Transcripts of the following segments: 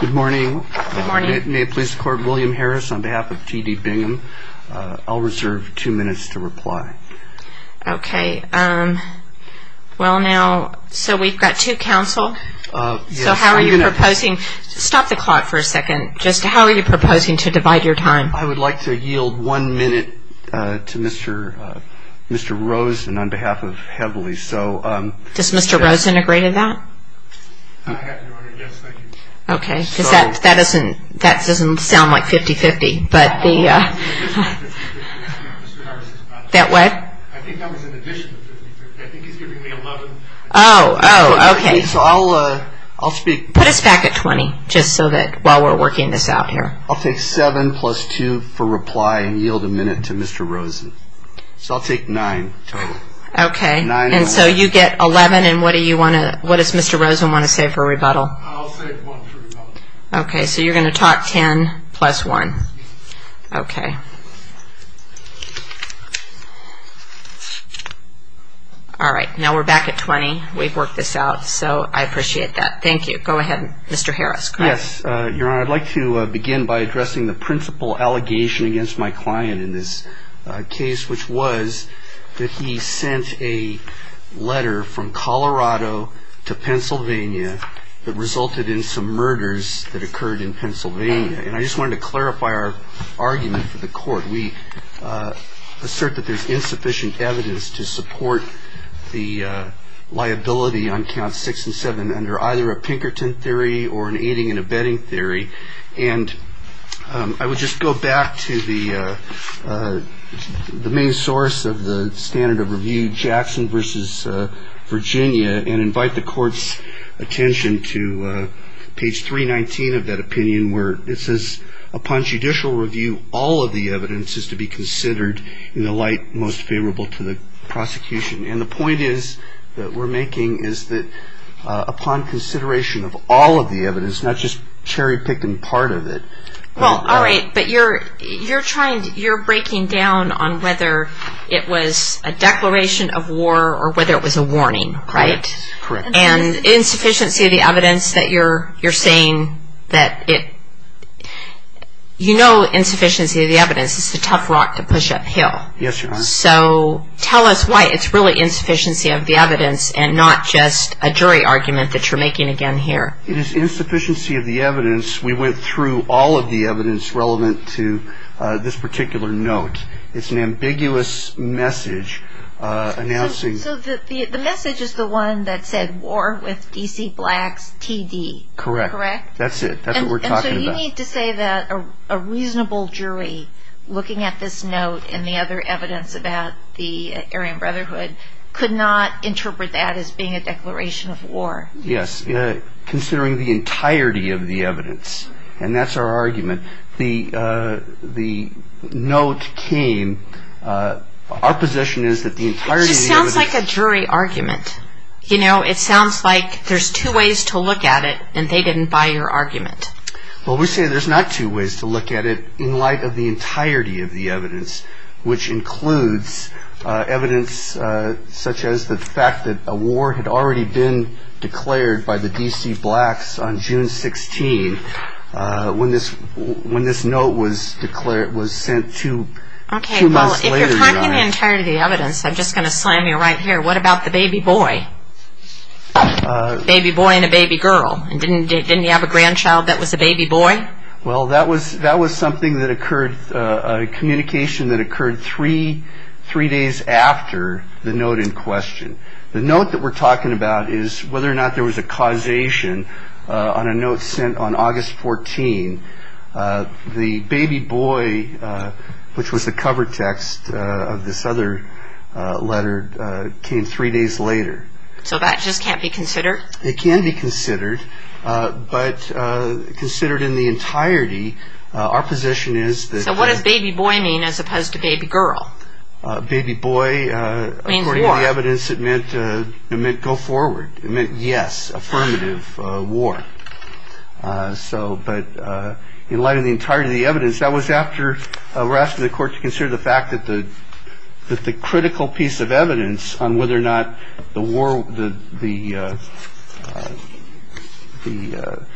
Good morning. May it please the court, William Harris on behalf of T.D. Bingham. I'll reserve two minutes to reply. Okay. Well now, so we've got two counsel. So how are you proposing, stop the clock for a second, just how are you proposing to divide your time? I would like to yield one minute to Mr. Rosen on behalf of Heavily. Does Mr. Rosen agree to that? I have your order, yes, thank you. Okay, because that doesn't sound like 50-50. I think I was in addition to 50-50. I think he's giving me 11. Oh, oh, okay. So I'll speak. Put us back at 20, just so that while we're working this out here. I'll take seven plus two for reply and yield a minute to Mr. Rosen. So I'll take nine total. Okay, and so you get 11 and what do you want to, what does Mr. Rosen want to say for rebuttal? I'll say one for rebuttal. Okay, so you're going to talk 10 plus one. Okay. All right, now we're back at 20. We've worked this out, so I appreciate that. Thank you. Go ahead, Mr. Harris. Yes, Your Honor, I'd like to begin by addressing the principal allegation against my client in this case, which was that he sent a letter from Colorado to Pennsylvania that resulted in some murders that occurred in Pennsylvania. And I just wanted to clarify our argument for the court. We assert that there's insufficient evidence to support the liability on counts six and seven under either a Pinkerton theory or an aiding and abetting theory. And I would just go back to the main source of the standard of review, Jackson versus Virginia, and invite the court's attention to page 319 of that opinion where it says upon judicial review, all of the evidence is to be considered in the light most favorable to the prosecution. And the point is that we're making is that upon consideration of all of the evidence, not just cherry-picking part of it. Well, all right, but you're breaking down on whether it was a declaration of war or whether it was a warning, right? Correct. And insufficiency of the evidence that you're saying that it – you know insufficiency of the evidence is a tough rock to push uphill. Yes, Your Honor. So tell us why it's really insufficiency of the evidence and not just a jury argument that you're making again here. It is insufficiency of the evidence. We went through all of the evidence relevant to this particular note. It's an ambiguous message announcing – So the message is the one that said war with D.C. Blacks, T.D. Correct. Correct? That's it. That's what we're talking about. So you need to say that a reasonable jury looking at this note and the other evidence about the Aryan Brotherhood could not interpret that as being a declaration of war. Yes, considering the entirety of the evidence. And that's our argument. The note came – our position is that the entirety of the evidence – It just sounds like a jury argument. You know, it sounds like there's two ways to look at it and they didn't buy your argument. Well, we say there's not two ways to look at it in light of the entirety of the evidence, which includes evidence such as the fact that a war had already been declared by the D.C. Blacks on June 16th when this note was sent two months later, Your Honor. Okay, well, if you're talking the entirety of the evidence, I'm just going to slam you right here. What about the baby boy? Baby boy and a baby girl. Didn't he have a grandchild that was a baby boy? Well, that was something that occurred – a communication that occurred three days after the note in question. The note that we're talking about is whether or not there was a causation on a note sent on August 14. The baby boy, which was the cover text of this other letter, came three days later. So that just can't be considered? It can be considered, but considered in the entirety, our position is that – So what does baby boy mean as opposed to baby girl? Baby boy, according to the evidence, it meant go forward. It meant yes, affirmative, war. But in light of the entirety of the evidence, that was after we were asking the court to consider the fact that the critical piece of evidence on whether or not the war – the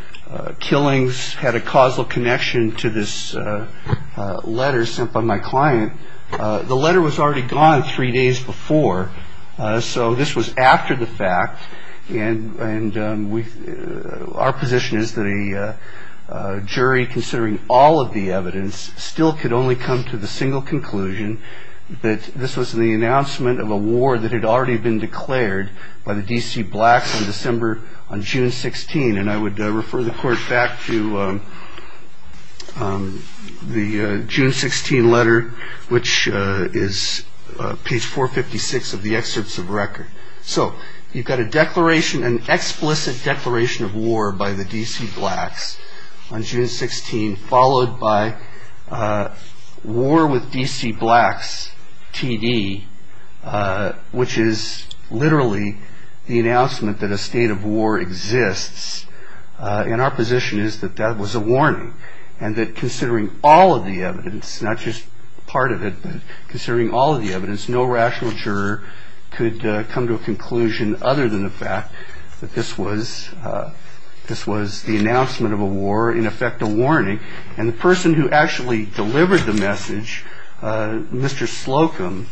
killings had a causal connection to this letter sent by my client. The letter was already gone three days before, so this was after the fact. And our position is that a jury, considering all of the evidence, still could only come to the single conclusion that this was the announcement of a war that had already been declared by the D.C. blacks on December – on June 16. And I would refer the court back to the June 16 letter, which is page 456 of the excerpts of record. So you've got a declaration, an explicit declaration of war by the D.C. blacks on June 16, followed by war with D.C. blacks, T.D., which is literally the announcement that a state of war exists. And our position is that that was a warning, and that considering all of the evidence, not just part of it, but considering all of the evidence, no rational juror could come to a conclusion other than the fact that this was the announcement of a war, in effect a warning. And the person who actually delivered the message, Mr. Slocum,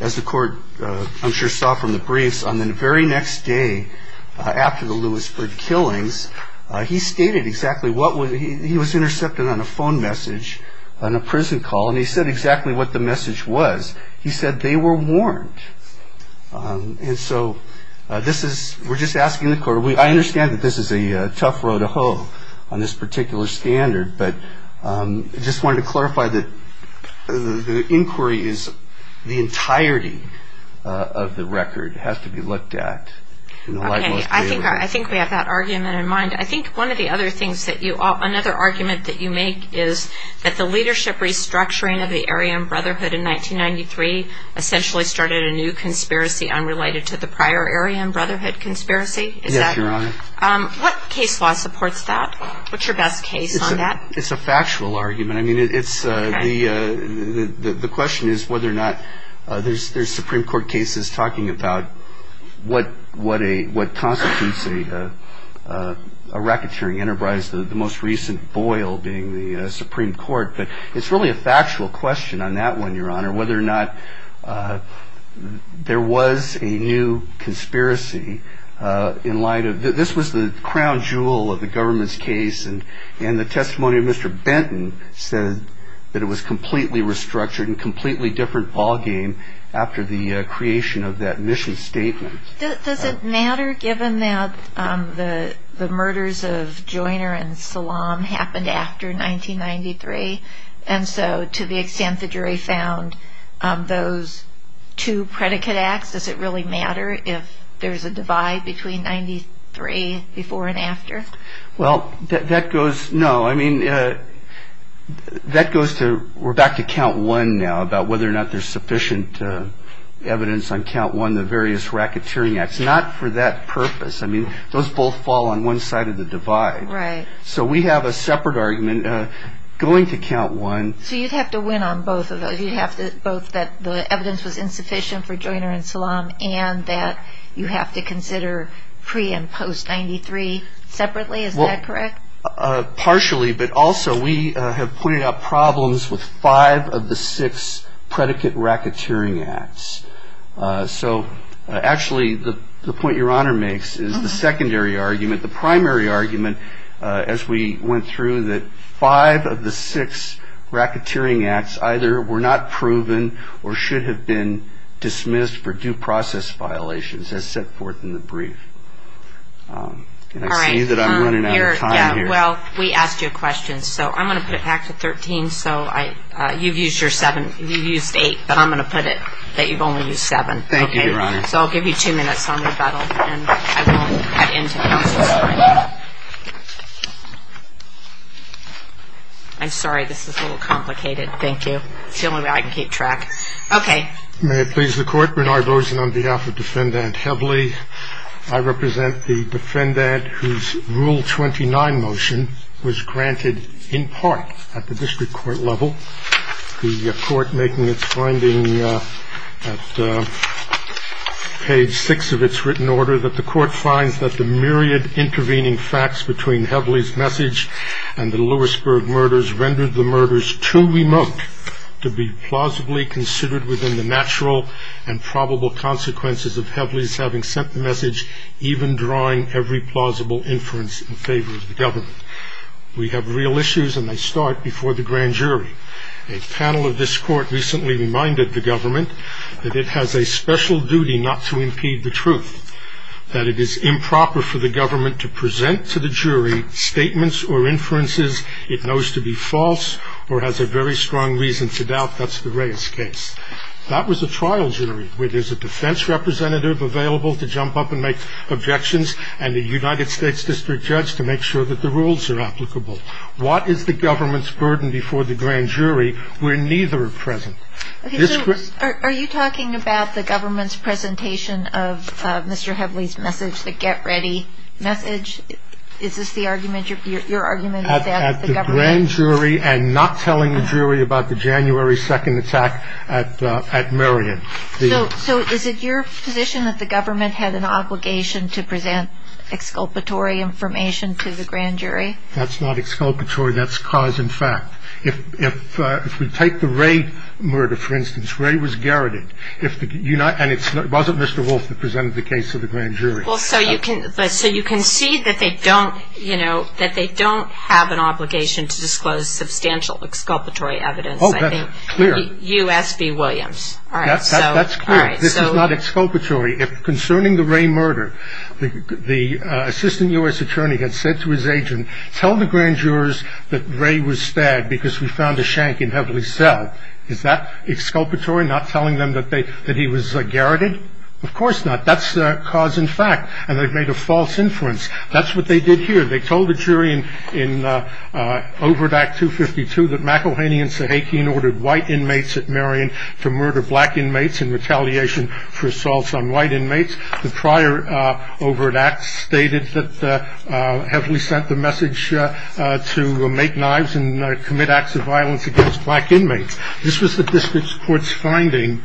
as the court, I'm sure, saw from the briefs on the very next day after the Lewisburg killings, he stated exactly what was – he was intercepted on a phone message on a prison call, and he said exactly what the message was. He said they were warned. And so this is – we're just asking the court – I understand that this is a tough row to hoe on this particular standard, but I just wanted to clarify that the inquiry is – the entirety of the record has to be looked at. Okay. I think we have that argument in mind. I think one of the other things that you – another argument that you make is that the leadership restructuring of the Aryan Brotherhood in 1993 essentially started a new conspiracy unrelated to the prior Aryan Brotherhood conspiracy. Yes, Your Honor. What case law supports that? What's your best case on that? It's a factual argument. I mean, it's – the question is whether or not there's Supreme Court cases talking about what constitutes a racketeering enterprise, the most recent Boyle being the Supreme Court. But it's really a factual question on that one, Your Honor, whether or not there was a new conspiracy in light of – this was the crown jewel of the government's case, and the testimony of Mr. Benton said that it was completely restructured and completely different ballgame after the creation of that mission statement. Does it matter, given that the murders of Joyner and Salam happened after 1993? And so to the extent the jury found those two predicate acts, does it really matter if there's a divide between 93 before and after? Well, that goes – no. I mean, that goes to – we're back to count one now, about whether or not there's sufficient evidence on count one, the various racketeering acts. Not for that purpose. I mean, those both fall on one side of the divide. Right. So we have a separate argument going to count one. So you'd have to win on both of those. You'd have to – both that the evidence was insufficient for Joyner and Salam and that you have to consider pre- and post-93 separately. Is that correct? Partially, but also we have pointed out problems with five of the six predicate racketeering acts. So actually the point Your Honor makes is the secondary argument, the primary argument as we went through that five of the six racketeering acts either were not proven or should have been dismissed for due process violations, as set forth in the brief. And I see that I'm running out of time here. All right. Yeah, well, we asked you a question. So I'm going to put it back to 13. So I – you've used your seven. You've used eight, but I'm going to put it that you've only used seven. Thank you, Your Honor. Okay, so I'll give you two minutes on rebuttal and I won't cut into this. I'm sorry, this is a little complicated. Thank you. It's the only way I can keep track. Okay. May it please the Court. Bernard Rosen on behalf of Defendant Hebley. I represent the defendant whose Rule 29 motion was granted in part at the district court level. The court making its finding at page six of its written order that the court finds that the myriad intervening facts between Hebley's message and the Lewisburg murders rendered the murders too remote to be plausibly considered within the natural and probable consequences of Hebley's having sent the message, even drawing every plausible inference in favor of the government. We have real issues, and they start before the grand jury. A panel of this court recently reminded the government that it has a special duty not to impede the truth, that it is improper for the government to present to the jury statements or inferences it knows to be false or has a very strong reason to doubt that's the Reyes case. That was a trial jury where there's a defense representative available to jump up and make objections and a United States district judge to make sure that the rules are applicable. What is the government's burden before the grand jury where neither are present? Are you talking about the government's presentation of Mr. Hebley's message, the get ready message? Is this the argument, your argument? At the grand jury and not telling the jury about the January 2nd attack at Marion. So is it your position that the government had an obligation to present exculpatory information to the grand jury? That's not exculpatory, that's cause and fact. If we take the Ray murder, for instance, Ray was garroted, and it wasn't Mr. Wolf that presented the case to the grand jury. So you can see that they don't have an obligation to disclose substantial exculpatory evidence. Oh, that's clear. U.S.B. Williams. That's clear. This is not exculpatory. If concerning the Ray murder, the assistant U.S. attorney had said to his agent, tell the grand jurors that Ray was stabbed because we found a shank in Hebley's cell. Is that exculpatory, not telling them that he was garroted? Of course not. That's cause and fact, and they've made a false inference. That's what they did here. They told the jury in Overdack 252 that McElhaney and Sahakian ordered white inmates at Marion to murder black inmates in retaliation for assaults on white inmates. The prior Overdack stated that Hebley sent the message to make knives and commit acts of violence against black inmates. This was the district court's finding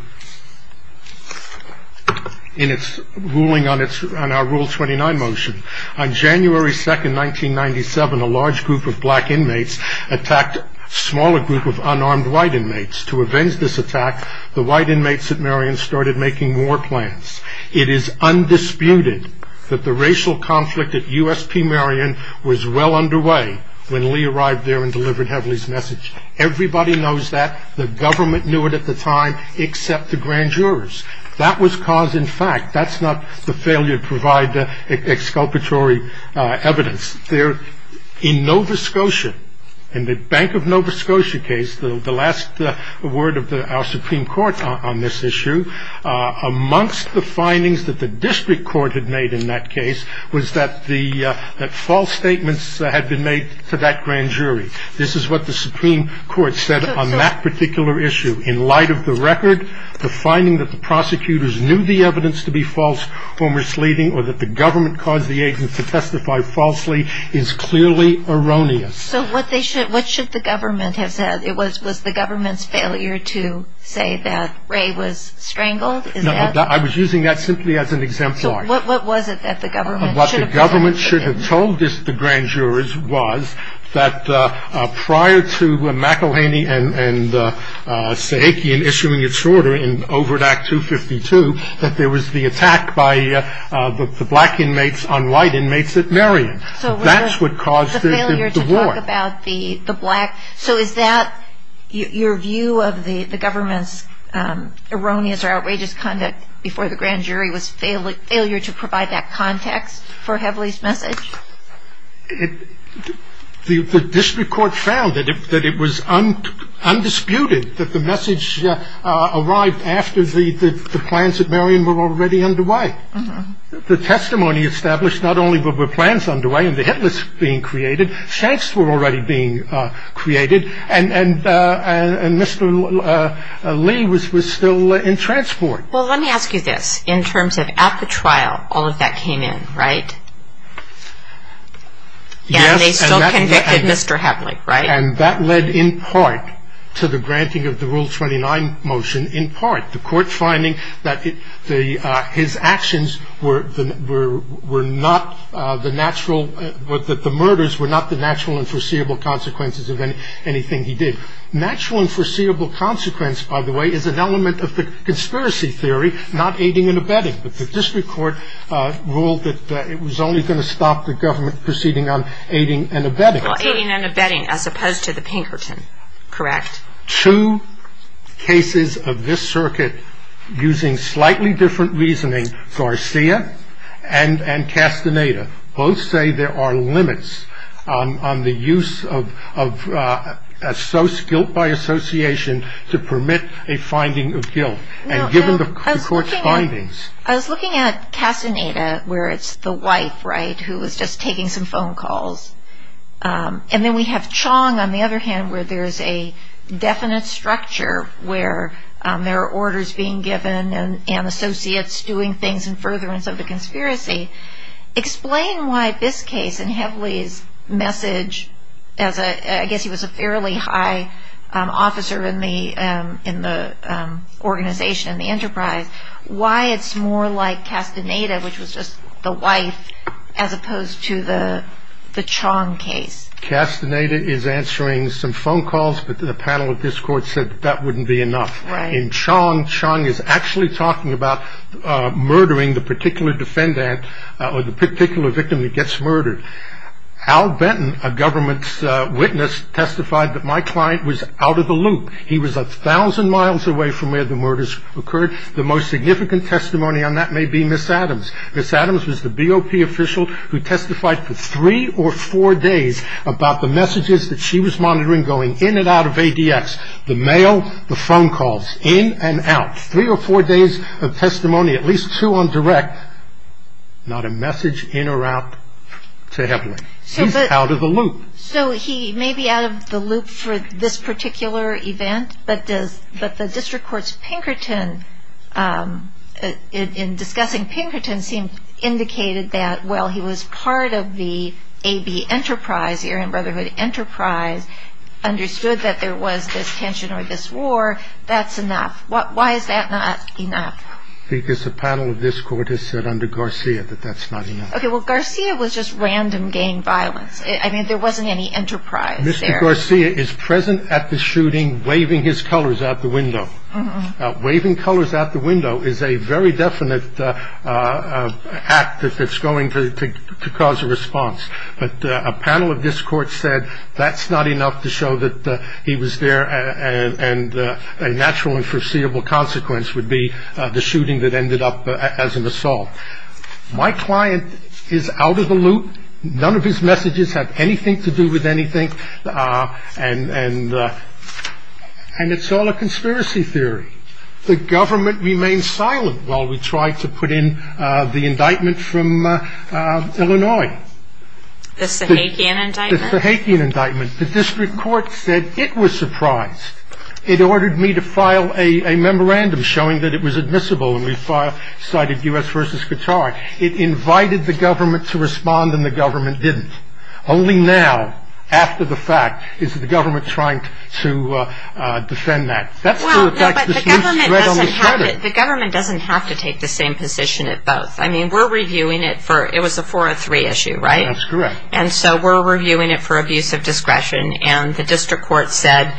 in its ruling on our Rule 29 motion. On January 2, 1997, a large group of black inmates attacked a smaller group of unarmed white inmates. To avenge this attack, the white inmates at Marion started making war plans. It is undisputed that the racial conflict at USP Marion was well underway when Lee arrived there and delivered Hebley's message. Everybody knows that. The government knew it at the time except the grand jurors. That was cause and fact. That's not the failure to provide exculpatory evidence. In Nova Scotia, in the Bank of Nova Scotia case, the last word of our Supreme Court on this issue, amongst the findings that the district court had made in that case was that false statements had been made to that grand jury. This is what the Supreme Court said on that particular issue. In light of the record, the finding that the prosecutors knew the evidence to be false, or that the government caused the agents to testify falsely is clearly erroneous. So what should the government have said? Was the government's failure to say that Ray was strangled? No, I was using that simply as an exemplar. So what was it that the government should have said? What the government should have told the grand jurors was that prior to McElhaney and Sahakian issuing its order in Overdack 252, that there was the attack by the black inmates on white inmates at Marion. That's what caused the war. So is that your view of the government's erroneous or outrageous conduct before the grand jury The district court found that it was undisputed that the message arrived after the plans at Marion were already underway. The testimony established not only were the plans underway and the hit list being created, chants were already being created, and Mr. Lee was still in transport. Well, let me ask you this. In terms of at the trial, all of that came in, right? Yes. And they still convicted Mr. Hadley, right? And that led in part to the granting of the Rule 29 motion in part. The court finding that his actions were not the natural, that the murders were not the natural and foreseeable consequences of anything he did. Natural and foreseeable consequence, by the way, is an element of the conspiracy theory, not aiding and abetting. But the district court ruled that it was only going to stop the government proceeding on aiding and abetting. Well, aiding and abetting as opposed to the Pinkerton, correct? Two cases of this circuit using slightly different reasoning, Garcia and Castaneda, both say there are limits on the use of guilt by association to permit a finding of guilt. And given the court's findings. I was looking at Castaneda, where it's the wife, right, who was just taking some phone calls. And then we have Chong, on the other hand, where there's a definite structure, where there are orders being given and associates doing things in furtherance of the conspiracy, explain why this case and Heavily's message, as I guess he was a fairly high officer in the organization, in the enterprise, why it's more like Castaneda, which was just the wife, as opposed to the Chong case. Castaneda is answering some phone calls, but the panel of this court said that wouldn't be enough. In Chong, Chong is actually talking about murdering the particular defendant or the particular victim that gets murdered. Al Benton, a government witness, testified that my client was out of the loop. He was a thousand miles away from where the murders occurred. The most significant testimony on that may be Miss Adams. Miss Adams was the BOP official who testified for three or four days about the messages that she was monitoring going in and out of ADX. The mail, the phone calls, in and out. Three or four days of testimony, at least two on direct, not a message in or out to Heavily. He's out of the loop. So he may be out of the loop for this particular event, but the district court's Pinkerton, in discussing Pinkerton, indicated that while he was part of the AB enterprise, the Aryan Brotherhood enterprise, understood that there was this tension or this war, that's enough. Why is that not enough? Because the panel of this court has said under Garcia that that's not enough. Well, Garcia was just random gang violence. I mean, there wasn't any enterprise there. Mr. Garcia is present at the shooting, waving his colors out the window. Waving colors out the window is a very definite act that's going to cause a response. But a panel of this court said that's not enough to show that he was there and a natural and foreseeable consequence would be the shooting that ended up as an assault. My client is out of the loop. None of his messages have anything to do with anything, and it's all a conspiracy theory. The government remained silent while we tried to put in the indictment from Illinois. The Sahakian indictment? The Sahakian indictment. The district court said it was surprised. It ordered me to file a memorandum showing that it was admissible, and we cited U.S. v. Qatar. It invited the government to respond, and the government didn't. Only now, after the fact, is the government trying to defend that. Well, no, but the government doesn't have to take the same position at both. I mean, we're reviewing it for – it was a 403 issue, right? That's correct. And so we're reviewing it for abuse of discretion, and the district court said,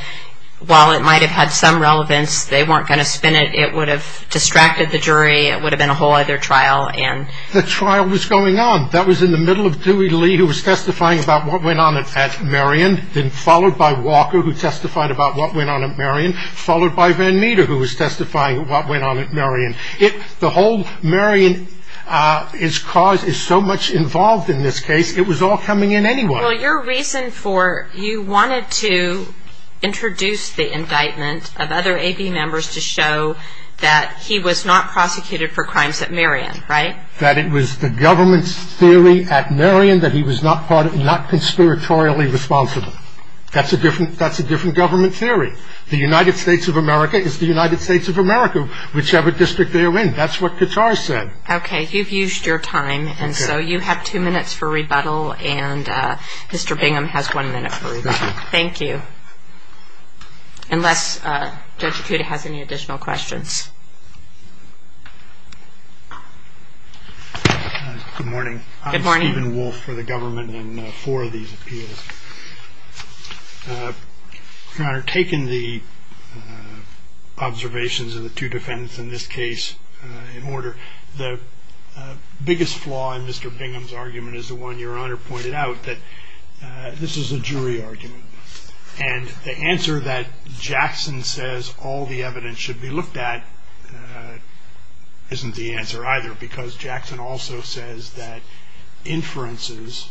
while it might have had some relevance, they weren't going to spin it. It would have distracted the jury. It would have been a whole other trial. The trial was going on. That was in the middle of Dewey Lee, who was testifying about what went on at Marion, then followed by Walker, who testified about what went on at Marion, followed by Van Meter, who was testifying about what went on at Marion. The whole Marion is so much involved in this case, it was all coming in anyway. Well, your reason for – you wanted to introduce the indictment of other A.B. members to show that he was not prosecuted for crimes at Marion, right? That it was the government's theory at Marion that he was not conspiratorially responsible. That's a different government theory. The United States of America is the United States of America, whichever district they're in. That's what Katar said. Okay. You've used your time, and so you have two minutes for rebuttal, and Mr. Bingham has one minute for rebuttal. Thank you. Unless Judge Acuda has any additional questions. Good morning. Good morning. I'm Stephen Wolf for the government in four of these appeals. Your Honor, taking the observations of the two defendants in this case in order, the biggest flaw in Mr. Bingham's argument is the one your Honor pointed out, that this is a jury argument, and the answer that Jackson says all the evidence should be looked at isn't the answer either, because Jackson also says that inferences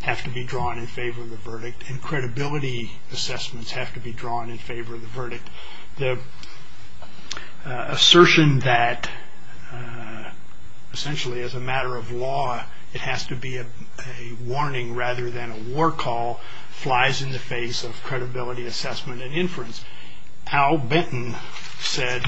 have to be drawn in favor of the verdict, and credibility assessments have to be drawn in favor of the verdict. The assertion that essentially as a matter of law it has to be a warning rather than a war call flies in the face of credibility assessment and inference. Al Benton said.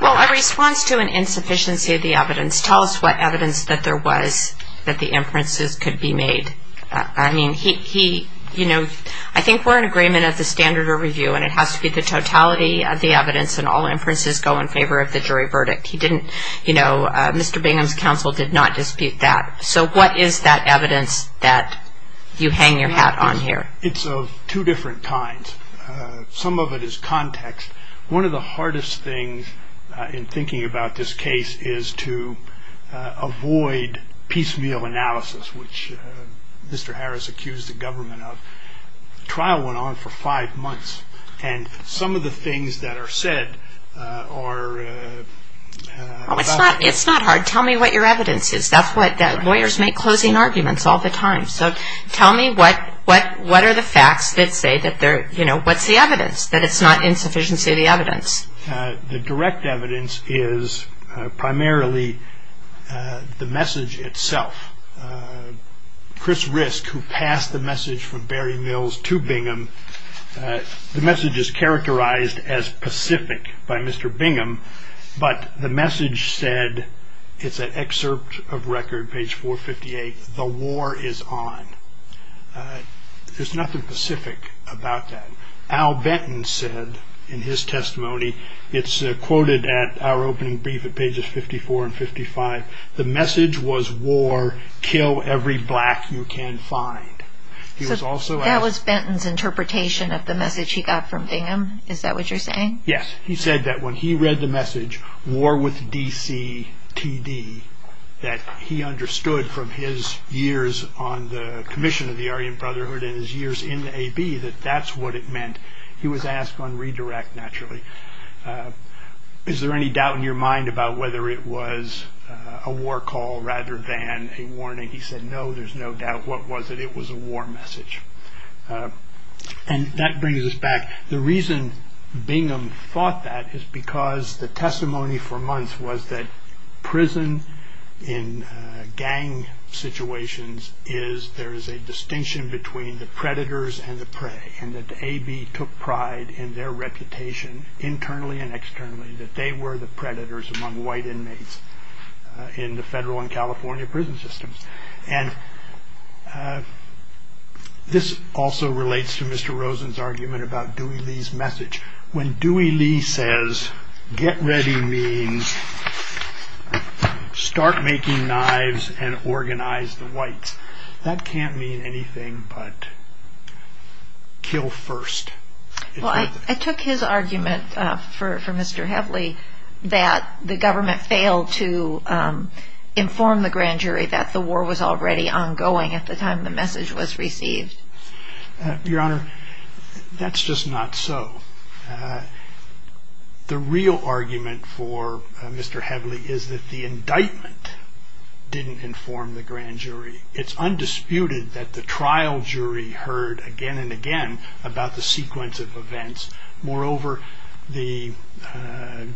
Well, a response to an insufficiency of the evidence. Tell us what evidence that there was that the inferences could be made. I mean, he, you know, I think we're in agreement at the standard of review and it has to be the totality of the evidence and all inferences go in favor of the jury verdict. He didn't, you know, Mr. Bingham's counsel did not dispute that. So what is that evidence that you hang your hat on here? It's of two different kinds. Some of it is context. One of the hardest things in thinking about this case is to avoid piecemeal analysis, which Mr. Harris accused the government of. The trial went on for five months, and some of the things that are said are about. It's not hard. Tell me what your evidence is. That's what lawyers make closing arguments all the time. So tell me what are the facts that say that they're, you know, what's the evidence, that it's not insufficiency of the evidence? The direct evidence is primarily the message itself. Chris Risk, who passed the message from Barry Mills to Bingham, the message is characterized as pacific by Mr. Bingham, but the message said, it's an excerpt of record, page 458, the war is on. There's nothing pacific about that. Al Benton said in his testimony, it's quoted at our opening brief at pages 54 and 55, the message was war, kill every black you can find. That was Benton's interpretation of the message he got from Bingham? Is that what you're saying? Yes. He said that when he read the message, war with D.C.T.D., that he understood from his years on the commission of the Aryan Brotherhood and his years in the A.B., that that's what it meant. He was asked on redirect naturally, is there any doubt in your mind about whether it was a war call rather than a warning? He said, no, there's no doubt. What was it? It was a war message. And that brings us back. The other thing in gang situations is there is a distinction between the predators and the prey, and that the A.B. took pride in their reputation internally and externally, that they were the predators among white inmates in the federal and California prison systems. And this also relates to Mr. Rosen's argument about Dewey Lee's message. When Dewey Lee says, get ready means start making knives and organize the whites, that can't mean anything but kill first. Well, I took his argument for Mr. Heavily that the government failed to inform the grand jury that the war was already ongoing at the time the message was received. Your Honor, that's just not so. The real argument for Mr. Heavily is that the indictment didn't inform the grand jury. It's undisputed that the trial jury heard again and again about the sequence of events. Moreover, the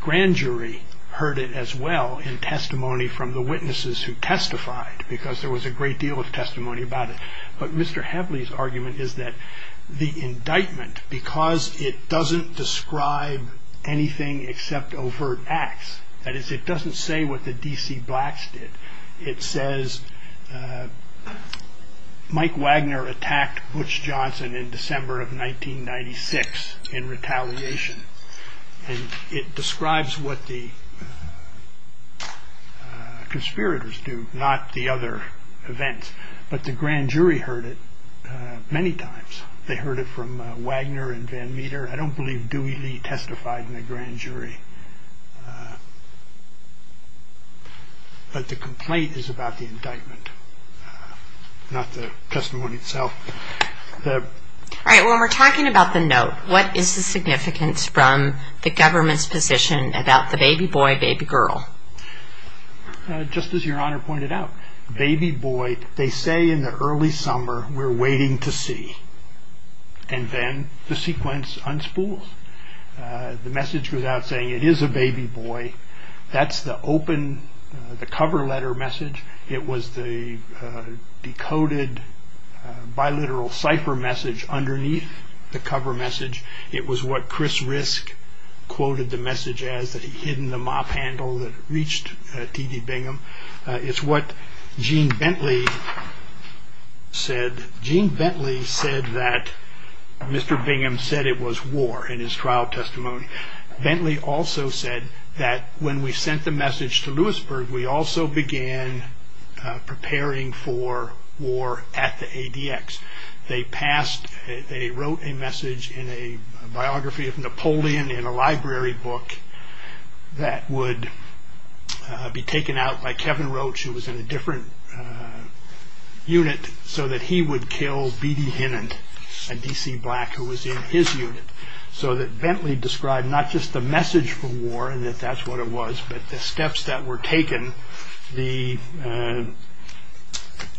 grand jury heard it as well in testimony from the witnesses who testified, because there was a great deal of testimony about it. But Mr. Heavily's argument is that the indictment, because it doesn't describe anything except overt acts, that is, it doesn't say what the D.C. blacks did, it says Mike Wagner attacked Butch Johnson in December of 1996 in retaliation, and it describes what the conspirators do, not the other events. But the grand jury heard it many times. They heard it from Wagner and Van Meter. I don't believe Dewey Lee testified in the grand jury. But the complaint is about the indictment, not the testimony itself. All right, when we're talking about the note, what is the significance from the government's position about the baby boy, baby girl? Just as Your Honor pointed out, baby boy, they say in the early summer, we're waiting to see, and then the sequence unspools. The message goes out saying it is a baby boy. That's the open, the cover letter message. It was the decoded, biliteral cipher message underneath the cover message. It was what Chris Risk quoted the message as, that he hidden the mop handle that reached T.D. Bingham. It's what Gene Bentley said. Gene Bentley said that Mr. Bingham said it was war in his trial testimony. Bentley also said that when we sent the message to Lewisburg, we also began preparing for war at the ADX. They wrote a message in a biography of Napoleon in a library book that would be taken out by Kevin Roach, who was in a different unit, so that he would kill B.D. Hinnant, a D.C. black who was in his unit, so that Bentley described not just the message for war and that that's what it was, but the steps that were taken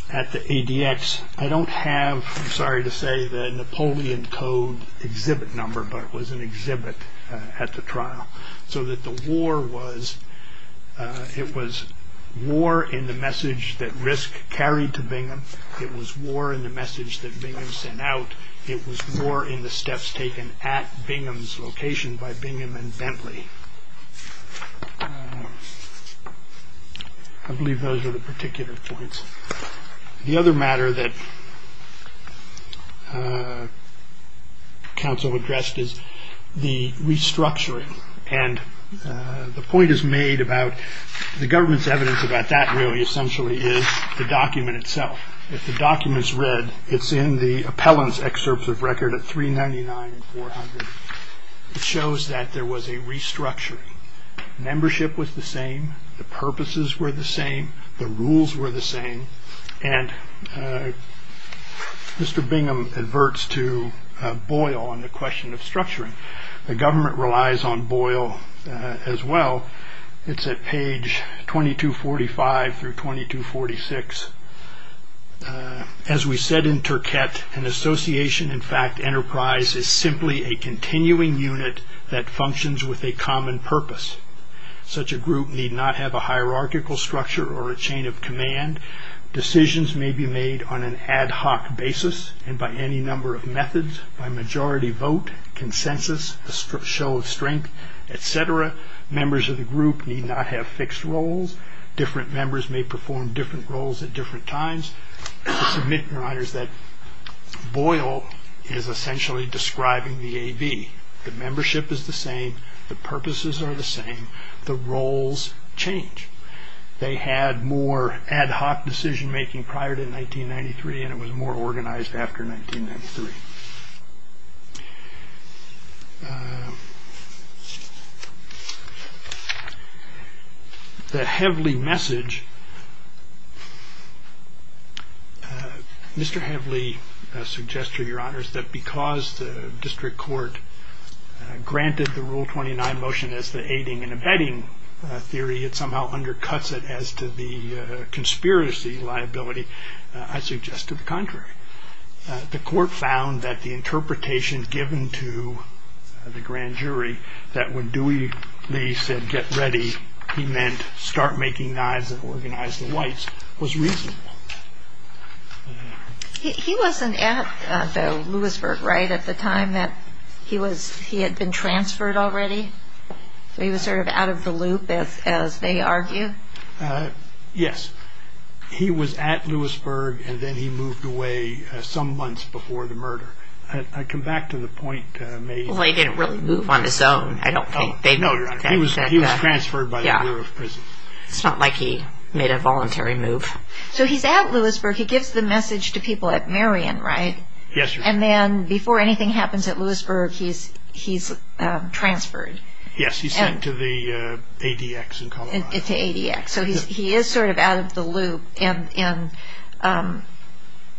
at the ADX. I don't have, I'm sorry to say, the Napoleon Code exhibit number, but it was an exhibit at the trial, so that the war was, it was war in the message that Risk carried to Bingham. It was war in the message that Bingham sent out. It was war in the steps taken at Bingham's location by Bingham and Bentley. I believe those are the particular points. The other matter that counsel addressed is the restructuring, and the point is made about the government's evidence about that really essentially is the document itself. If the document's read, it's in the appellant's excerpts of record at 399 and 400. It shows that there was a restructuring. Membership was the same. The purposes were the same. The rules were the same, and Mr. Bingham adverts to Boyle on the question of structuring. The government relies on Boyle as well. It's at page 2245 through 2246. As we said in Turquette, an association, in fact, enterprise, is simply a continuing unit that functions with a common purpose. Such a group need not have a hierarchical structure or a chain of command. Decisions may be made on an ad hoc basis and by any number of methods, by majority vote, consensus, a show of strength, et cetera. Members of the group need not have fixed roles. Different members may perform different roles at different times. I submit, Your Honors, that Boyle is essentially describing the AV. The membership is the same. The purposes are the same. The roles change. They had more ad hoc decision-making prior to 1993, and it was more organized after 1993. The Heavley message, Mr. Heavley suggests, Your Honors, that because the district court granted the Rule 29 motion as the aiding and abetting theory, it somehow undercuts it as to the conspiracy liability. I suggest to the contrary. The court found that the interpretation given to the grand jury, that when Dewey Lee said, get ready, he meant start making knives and organize the whites, was reasonable. He wasn't at the Lewisburg, right, at the time that he had been transferred already? He was sort of out of the loop, as they argue? Yes. He was at Lewisburg, and then he moved away some months before the murder. I come back to the point made. Well, he didn't really move on his own, I don't think. No, Your Honor. He was transferred by the Bureau of Prisons. It's not like he made a voluntary move. So he's at Lewisburg. He gives the message to people at Marion, right? Yes, Your Honor. And then before anything happens at Lewisburg, he's transferred. Yes, he's sent to the ADX in Colorado. To ADX. So he is sort of out of the loop. And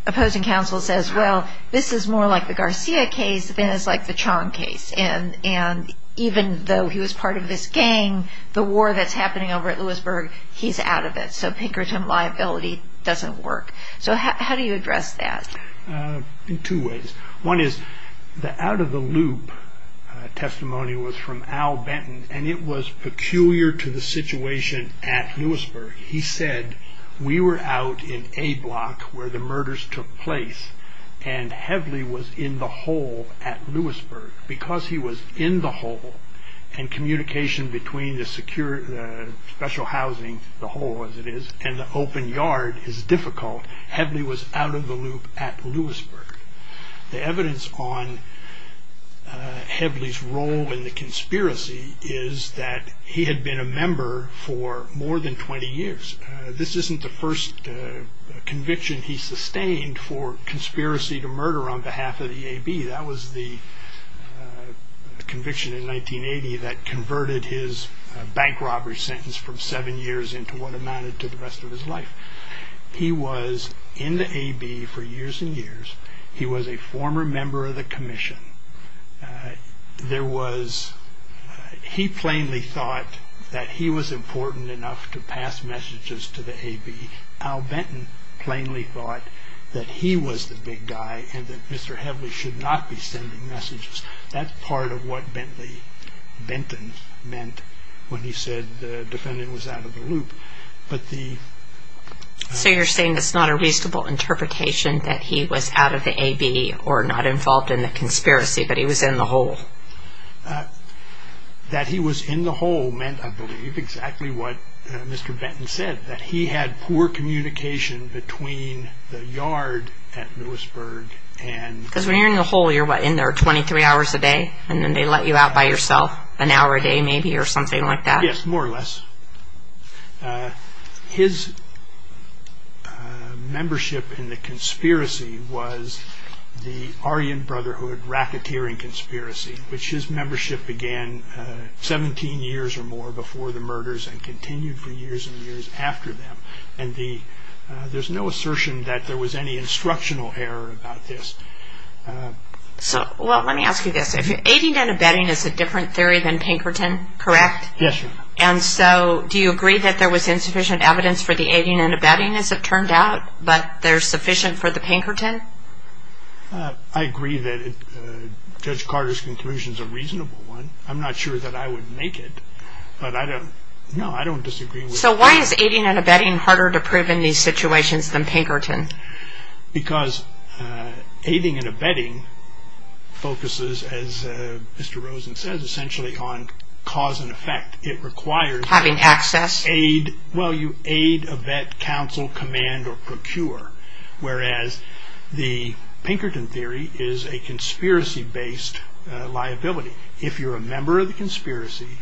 opposing counsel says, well, this is more like the Garcia case than it's like the Chong case. And even though he was part of this gang, the war that's happening over at Lewisburg, he's out of it. So Pinkerton liability doesn't work. So how do you address that? In two ways. One is the out of the loop testimony was from Al Benton, and it was peculiar to the situation at Lewisburg. He said, we were out in a block where the murders took place, and Heavily was in the hole at Lewisburg. Because he was in the hole, and communication between the secure special housing, the hole as it is, and the open yard is difficult. Heavily was out of the loop at Lewisburg. The evidence on Heavily's role in the conspiracy is that he had been a member for more than 20 years. This isn't the first conviction he sustained for conspiracy to murder on behalf of the AB. That was the conviction in 1980 that converted his bank robbery sentence from seven years into what amounted to the rest of his life. He was in the AB for years and years. He was a former member of the commission. He plainly thought that he was important enough to pass messages to the AB. Al Benton plainly thought that he was the big guy and that Mr. Heavily should not be sending messages. That's part of what Benton meant when he said the defendant was out of the loop. So you're saying it's not a reasonable interpretation that he was out of the AB or not involved in the conspiracy, but he was in the hole? That he was in the hole meant, I believe, exactly what Mr. Benton said, that he had poor communication between the yard at Lewisburg and... Because when you're in the hole, you're, what, in there 23 hours a day, and then they let you out by yourself an hour a day, maybe, or something like that? Yes, more or less. His membership in the conspiracy was the Aryan Brotherhood racketeering conspiracy, which his membership began 17 years or more before the murders and continued for years and years after them. And there's no assertion that there was any instructional error about this. So, well, let me ask you this. Aiding and abetting is a different theory than Pinkerton, correct? Yes, Your Honor. And so do you agree that there was insufficient evidence for the aiding and abetting, as it turned out, but there's sufficient for the Pinkerton? I agree that Judge Carter's conclusion is a reasonable one. I'm not sure that I would make it, but I don't, no, I don't disagree. So why is aiding and abetting harder to prove in these situations than Pinkerton? Because aiding and abetting focuses, as Mr. Rosen says, essentially on cause and effect. It requires... Having access? Well, you aid, abet, counsel, command, or procure, whereas the Pinkerton theory is a conspiracy-based liability. If you're a member of the conspiracy,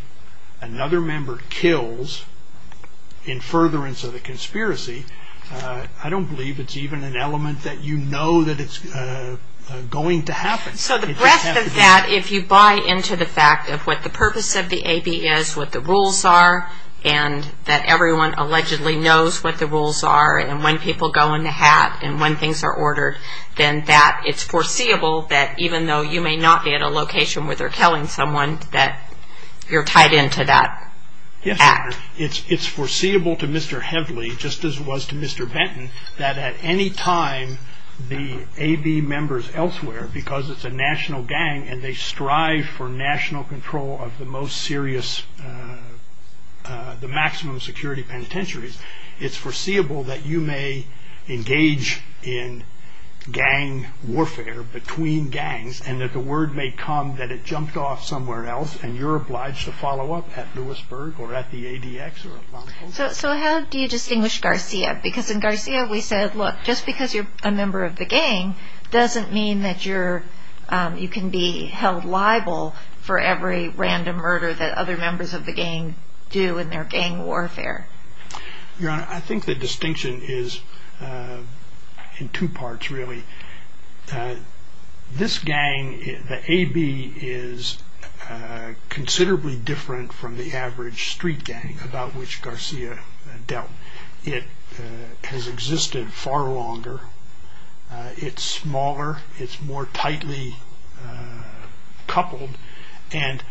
another member kills in furtherance of the conspiracy, I don't believe it's even an element that you know that it's going to happen. So the rest of that, if you buy into the fact of what the purpose of the A.B. is, what the rules are, and that everyone allegedly knows what the rules are, and when people go in the hat, and when things are ordered, then that, it's foreseeable that even though you may not be at a location where they're killing someone, that you're tied into that act. Yes, sir. It's foreseeable to Mr. Heavily, just as it was to Mr. Benton, that at any time the A.B. members elsewhere, because it's a national gang, and they strive for national control of the most serious, the maximum security penitentiaries, it's foreseeable that you may engage in gang warfare between gangs, and that the word may come that it jumped off somewhere else, and you're obliged to follow up at Lewisburg or at the ADX. So how do you distinguish Garcia? Because in Garcia we said, look, just because you're a member of the gang, doesn't mean that you can be held liable for every random murder that other members of the gang do in their gang warfare. Your Honor, I think the distinction is in two parts, really. This gang, the A.B., is considerably different from the average street gang about which Garcia dealt. It has existed far longer, it's smaller, it's more tightly coupled, and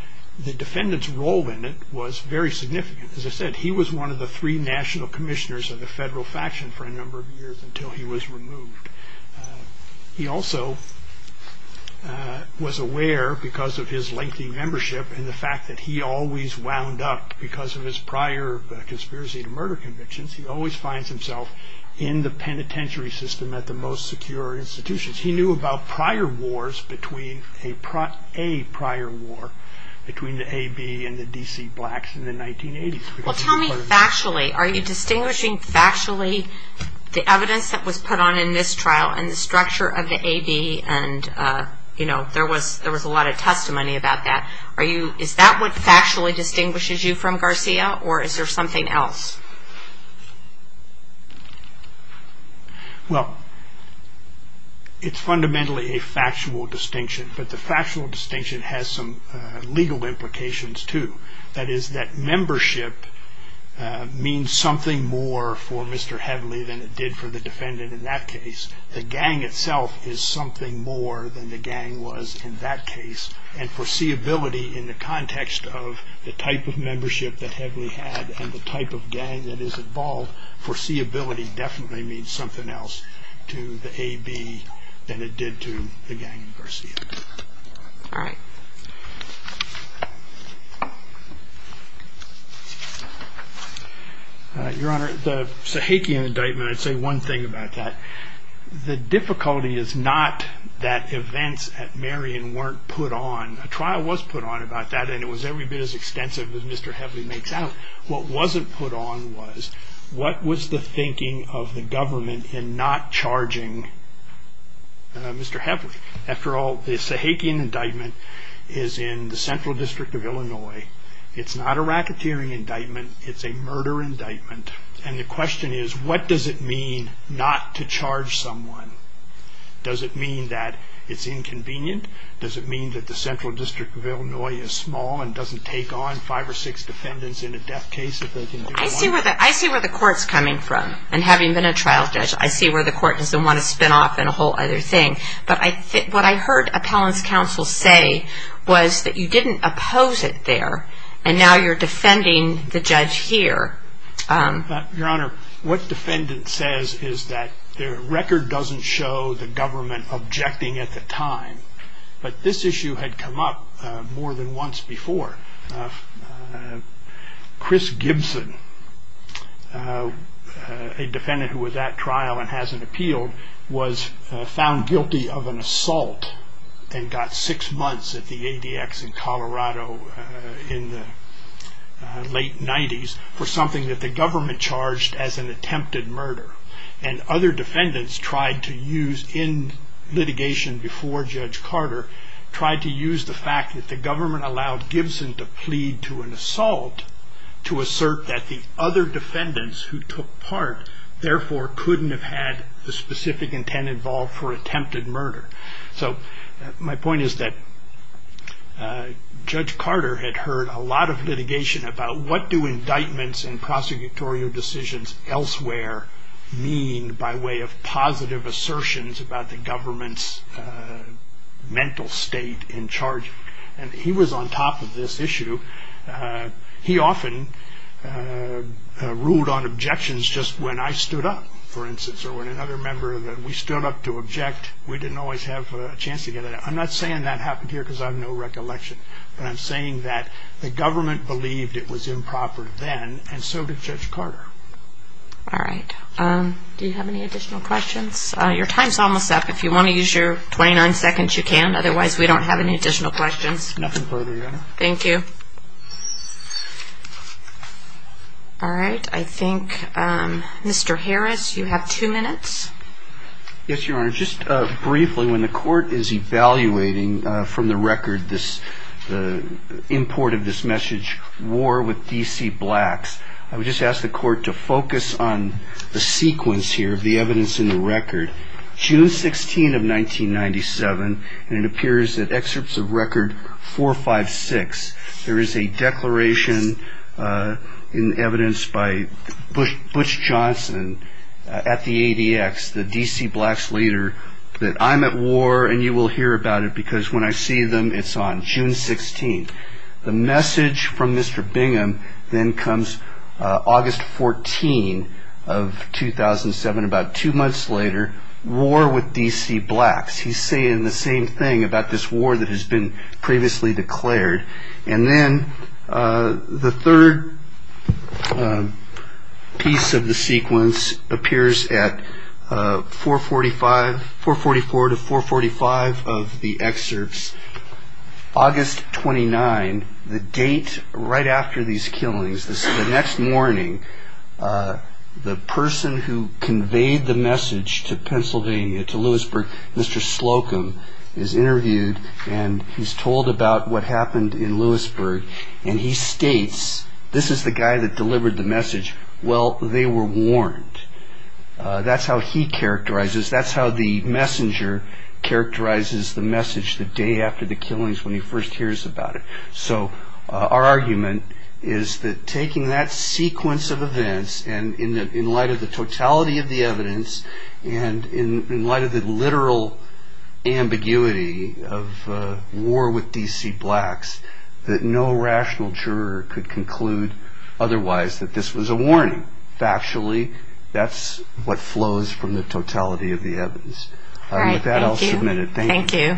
the defendant's role in it was very significant. As I said, he was one of the three national commissioners of the federal faction for a number of years until he was removed. He also was aware, because of his lengthy membership and the fact that he always wound up, because of his prior conspiracy to murder convictions, he always finds himself in the penitentiary system at the most secure institutions. He knew about prior wars, a prior war, between the A.B. and the D.C. blacks in the 1980s. Well, tell me factually, are you distinguishing factually the evidence that was put on in this trial and the structure of the A.B. and, you know, there was a lot of testimony about that. Is that what factually distinguishes you from Garcia, or is there something else? Well, it's fundamentally a factual distinction, but the factual distinction has some legal implications, too. That is that membership means something more for Mr. Heavily than it did for the defendant in that case. The gang itself is something more than the gang was in that case, and foreseeability in the context of the type of membership that Heavily had and the type of gang that is involved, foreseeability definitely means something else to the A.B. than it did to the gang in Garcia. All right. Your Honor, the Sahakian indictment, I'd say one thing about that. The difficulty is not that events at Marion weren't put on. A trial was put on about that, and it was every bit as extensive as Mr. Heavily makes out. What wasn't put on was what was the thinking of the government in not charging Mr. Heavily. After all, the Sahakian indictment is in the Central District of Illinois. It's not a racketeering indictment. It's a murder indictment, and the question is, what does it mean not to charge someone? Does it mean that it's inconvenient? Does it mean that the Central District of Illinois is small and doesn't take on five or six defendants in a death case if they can do it alone? I see where the court's coming from, and having been a trial judge, I see where the court doesn't want to spin off in a whole other thing, but what I heard appellant's counsel say was that you didn't oppose it there, and now you're defending the judge here. Your Honor, what defendant says is that their record doesn't show the government objecting at the time, but this issue had come up more than once before. Chris Gibson, a defendant who was at trial and hasn't appealed, was found guilty of an assault and got six months at the ADX in Colorado in the late 90s for something that the government charged as an attempted murder, and other defendants tried to use in litigation before Judge Carter, tried to use the fact that the government allowed Gibson to plead to an assault to assert that the other defendants who took part, therefore, couldn't have had the specific intent involved for attempted murder. So my point is that Judge Carter had heard a lot of litigation about what do indictments and prosecutorial decisions elsewhere mean by way of positive assertions about the government's mental state in charge, and he was on top of this issue. He often ruled on objections just when I stood up, for instance, or when another member that we stood up to object, we didn't always have a chance to get it out. I'm not saying that happened here because I have no recollection, but I'm saying that the government believed it was improper then, and so did Judge Carter. All right, do you have any additional questions? Your time's almost up. If you want to use your 29 seconds, you can. Otherwise, we don't have any additional questions. Nothing further, Your Honor. Thank you. All right, I think Mr. Harris, you have two minutes. Yes, Your Honor. Just briefly, when the court is evaluating from the record the import of this message, War with D.C. Blacks, I would just ask the court to focus on the sequence here of the evidence in the record. June 16 of 1997, and it appears that excerpts of record 456, there is a declaration in evidence by Butch Johnson at the ADX, the D.C. Blacks leader, that I'm at war and you will hear about it because when I see them, it's on June 16th. The message from Mr. Bingham then comes August 14 of 2007, about two months later, War with D.C. Blacks. He's saying the same thing about this war that has been previously declared. And then the third piece of the sequence appears at 444 to 445 of the excerpts. August 29, the date right after these killings, the next morning, the person who conveyed the message to Pennsylvania, to Lewisburg, Mr. Slocum, is interviewed and he's told about what happened in Lewisburg. And he states, this is the guy that delivered the message, well, they were warned. That's how he characterizes, that's how the messenger characterizes the message the day after the killings when he first hears about it. So our argument is that taking that sequence of events, and in light of the totality of the evidence, and in light of the literal ambiguity of War with D.C. Blacks, that no rational juror could conclude otherwise, that this was a warning. Factually, that's what flows from the totality of the evidence. With that, I'll submit it. Thank you.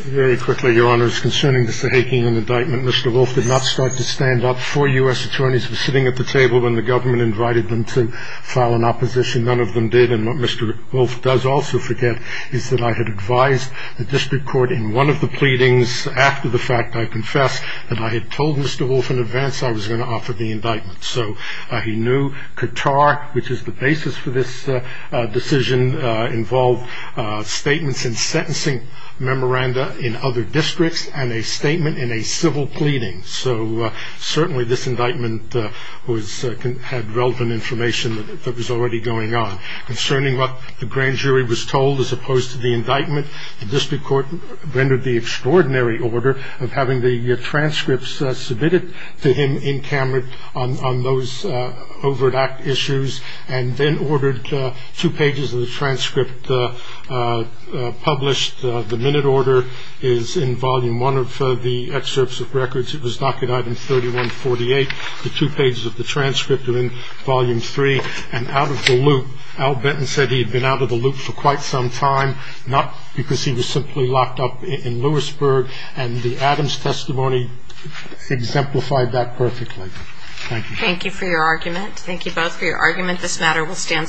Very quickly, Your Honors, concerning the Sahakian indictment, Mr. Wolf did not start to stand up. Four U.S. attorneys were sitting at the table when the government invited them to file an opposition. None of them did, and what Mr. Wolf does also forget is that I had advised the district court in one of the pleadings, after the fact, I confess, that I had told Mr. Wolf in advance I was going to offer the indictment. So he knew Qatar, which is the basis for this decision, involved statements in sentencing memoranda in other districts and a statement in a civil pleading. So certainly this indictment had relevant information that was already going on. Concerning what the grand jury was told as opposed to the indictment, the district court rendered the extraordinary order of having the transcripts submitted to him in Cameron on those overt act issues and then ordered two pages of the transcript published. The minute order is in volume one of the excerpts of records. It was docket item 3148. The two pages of the transcript are in volume three. Al Benton said he had been out of the loop for quite some time, not because he was simply locked up in Lewisburg, and the Adams testimony exemplified that perfectly. Thank you for your argument. Thank you both for your argument. This matter will stand submitted.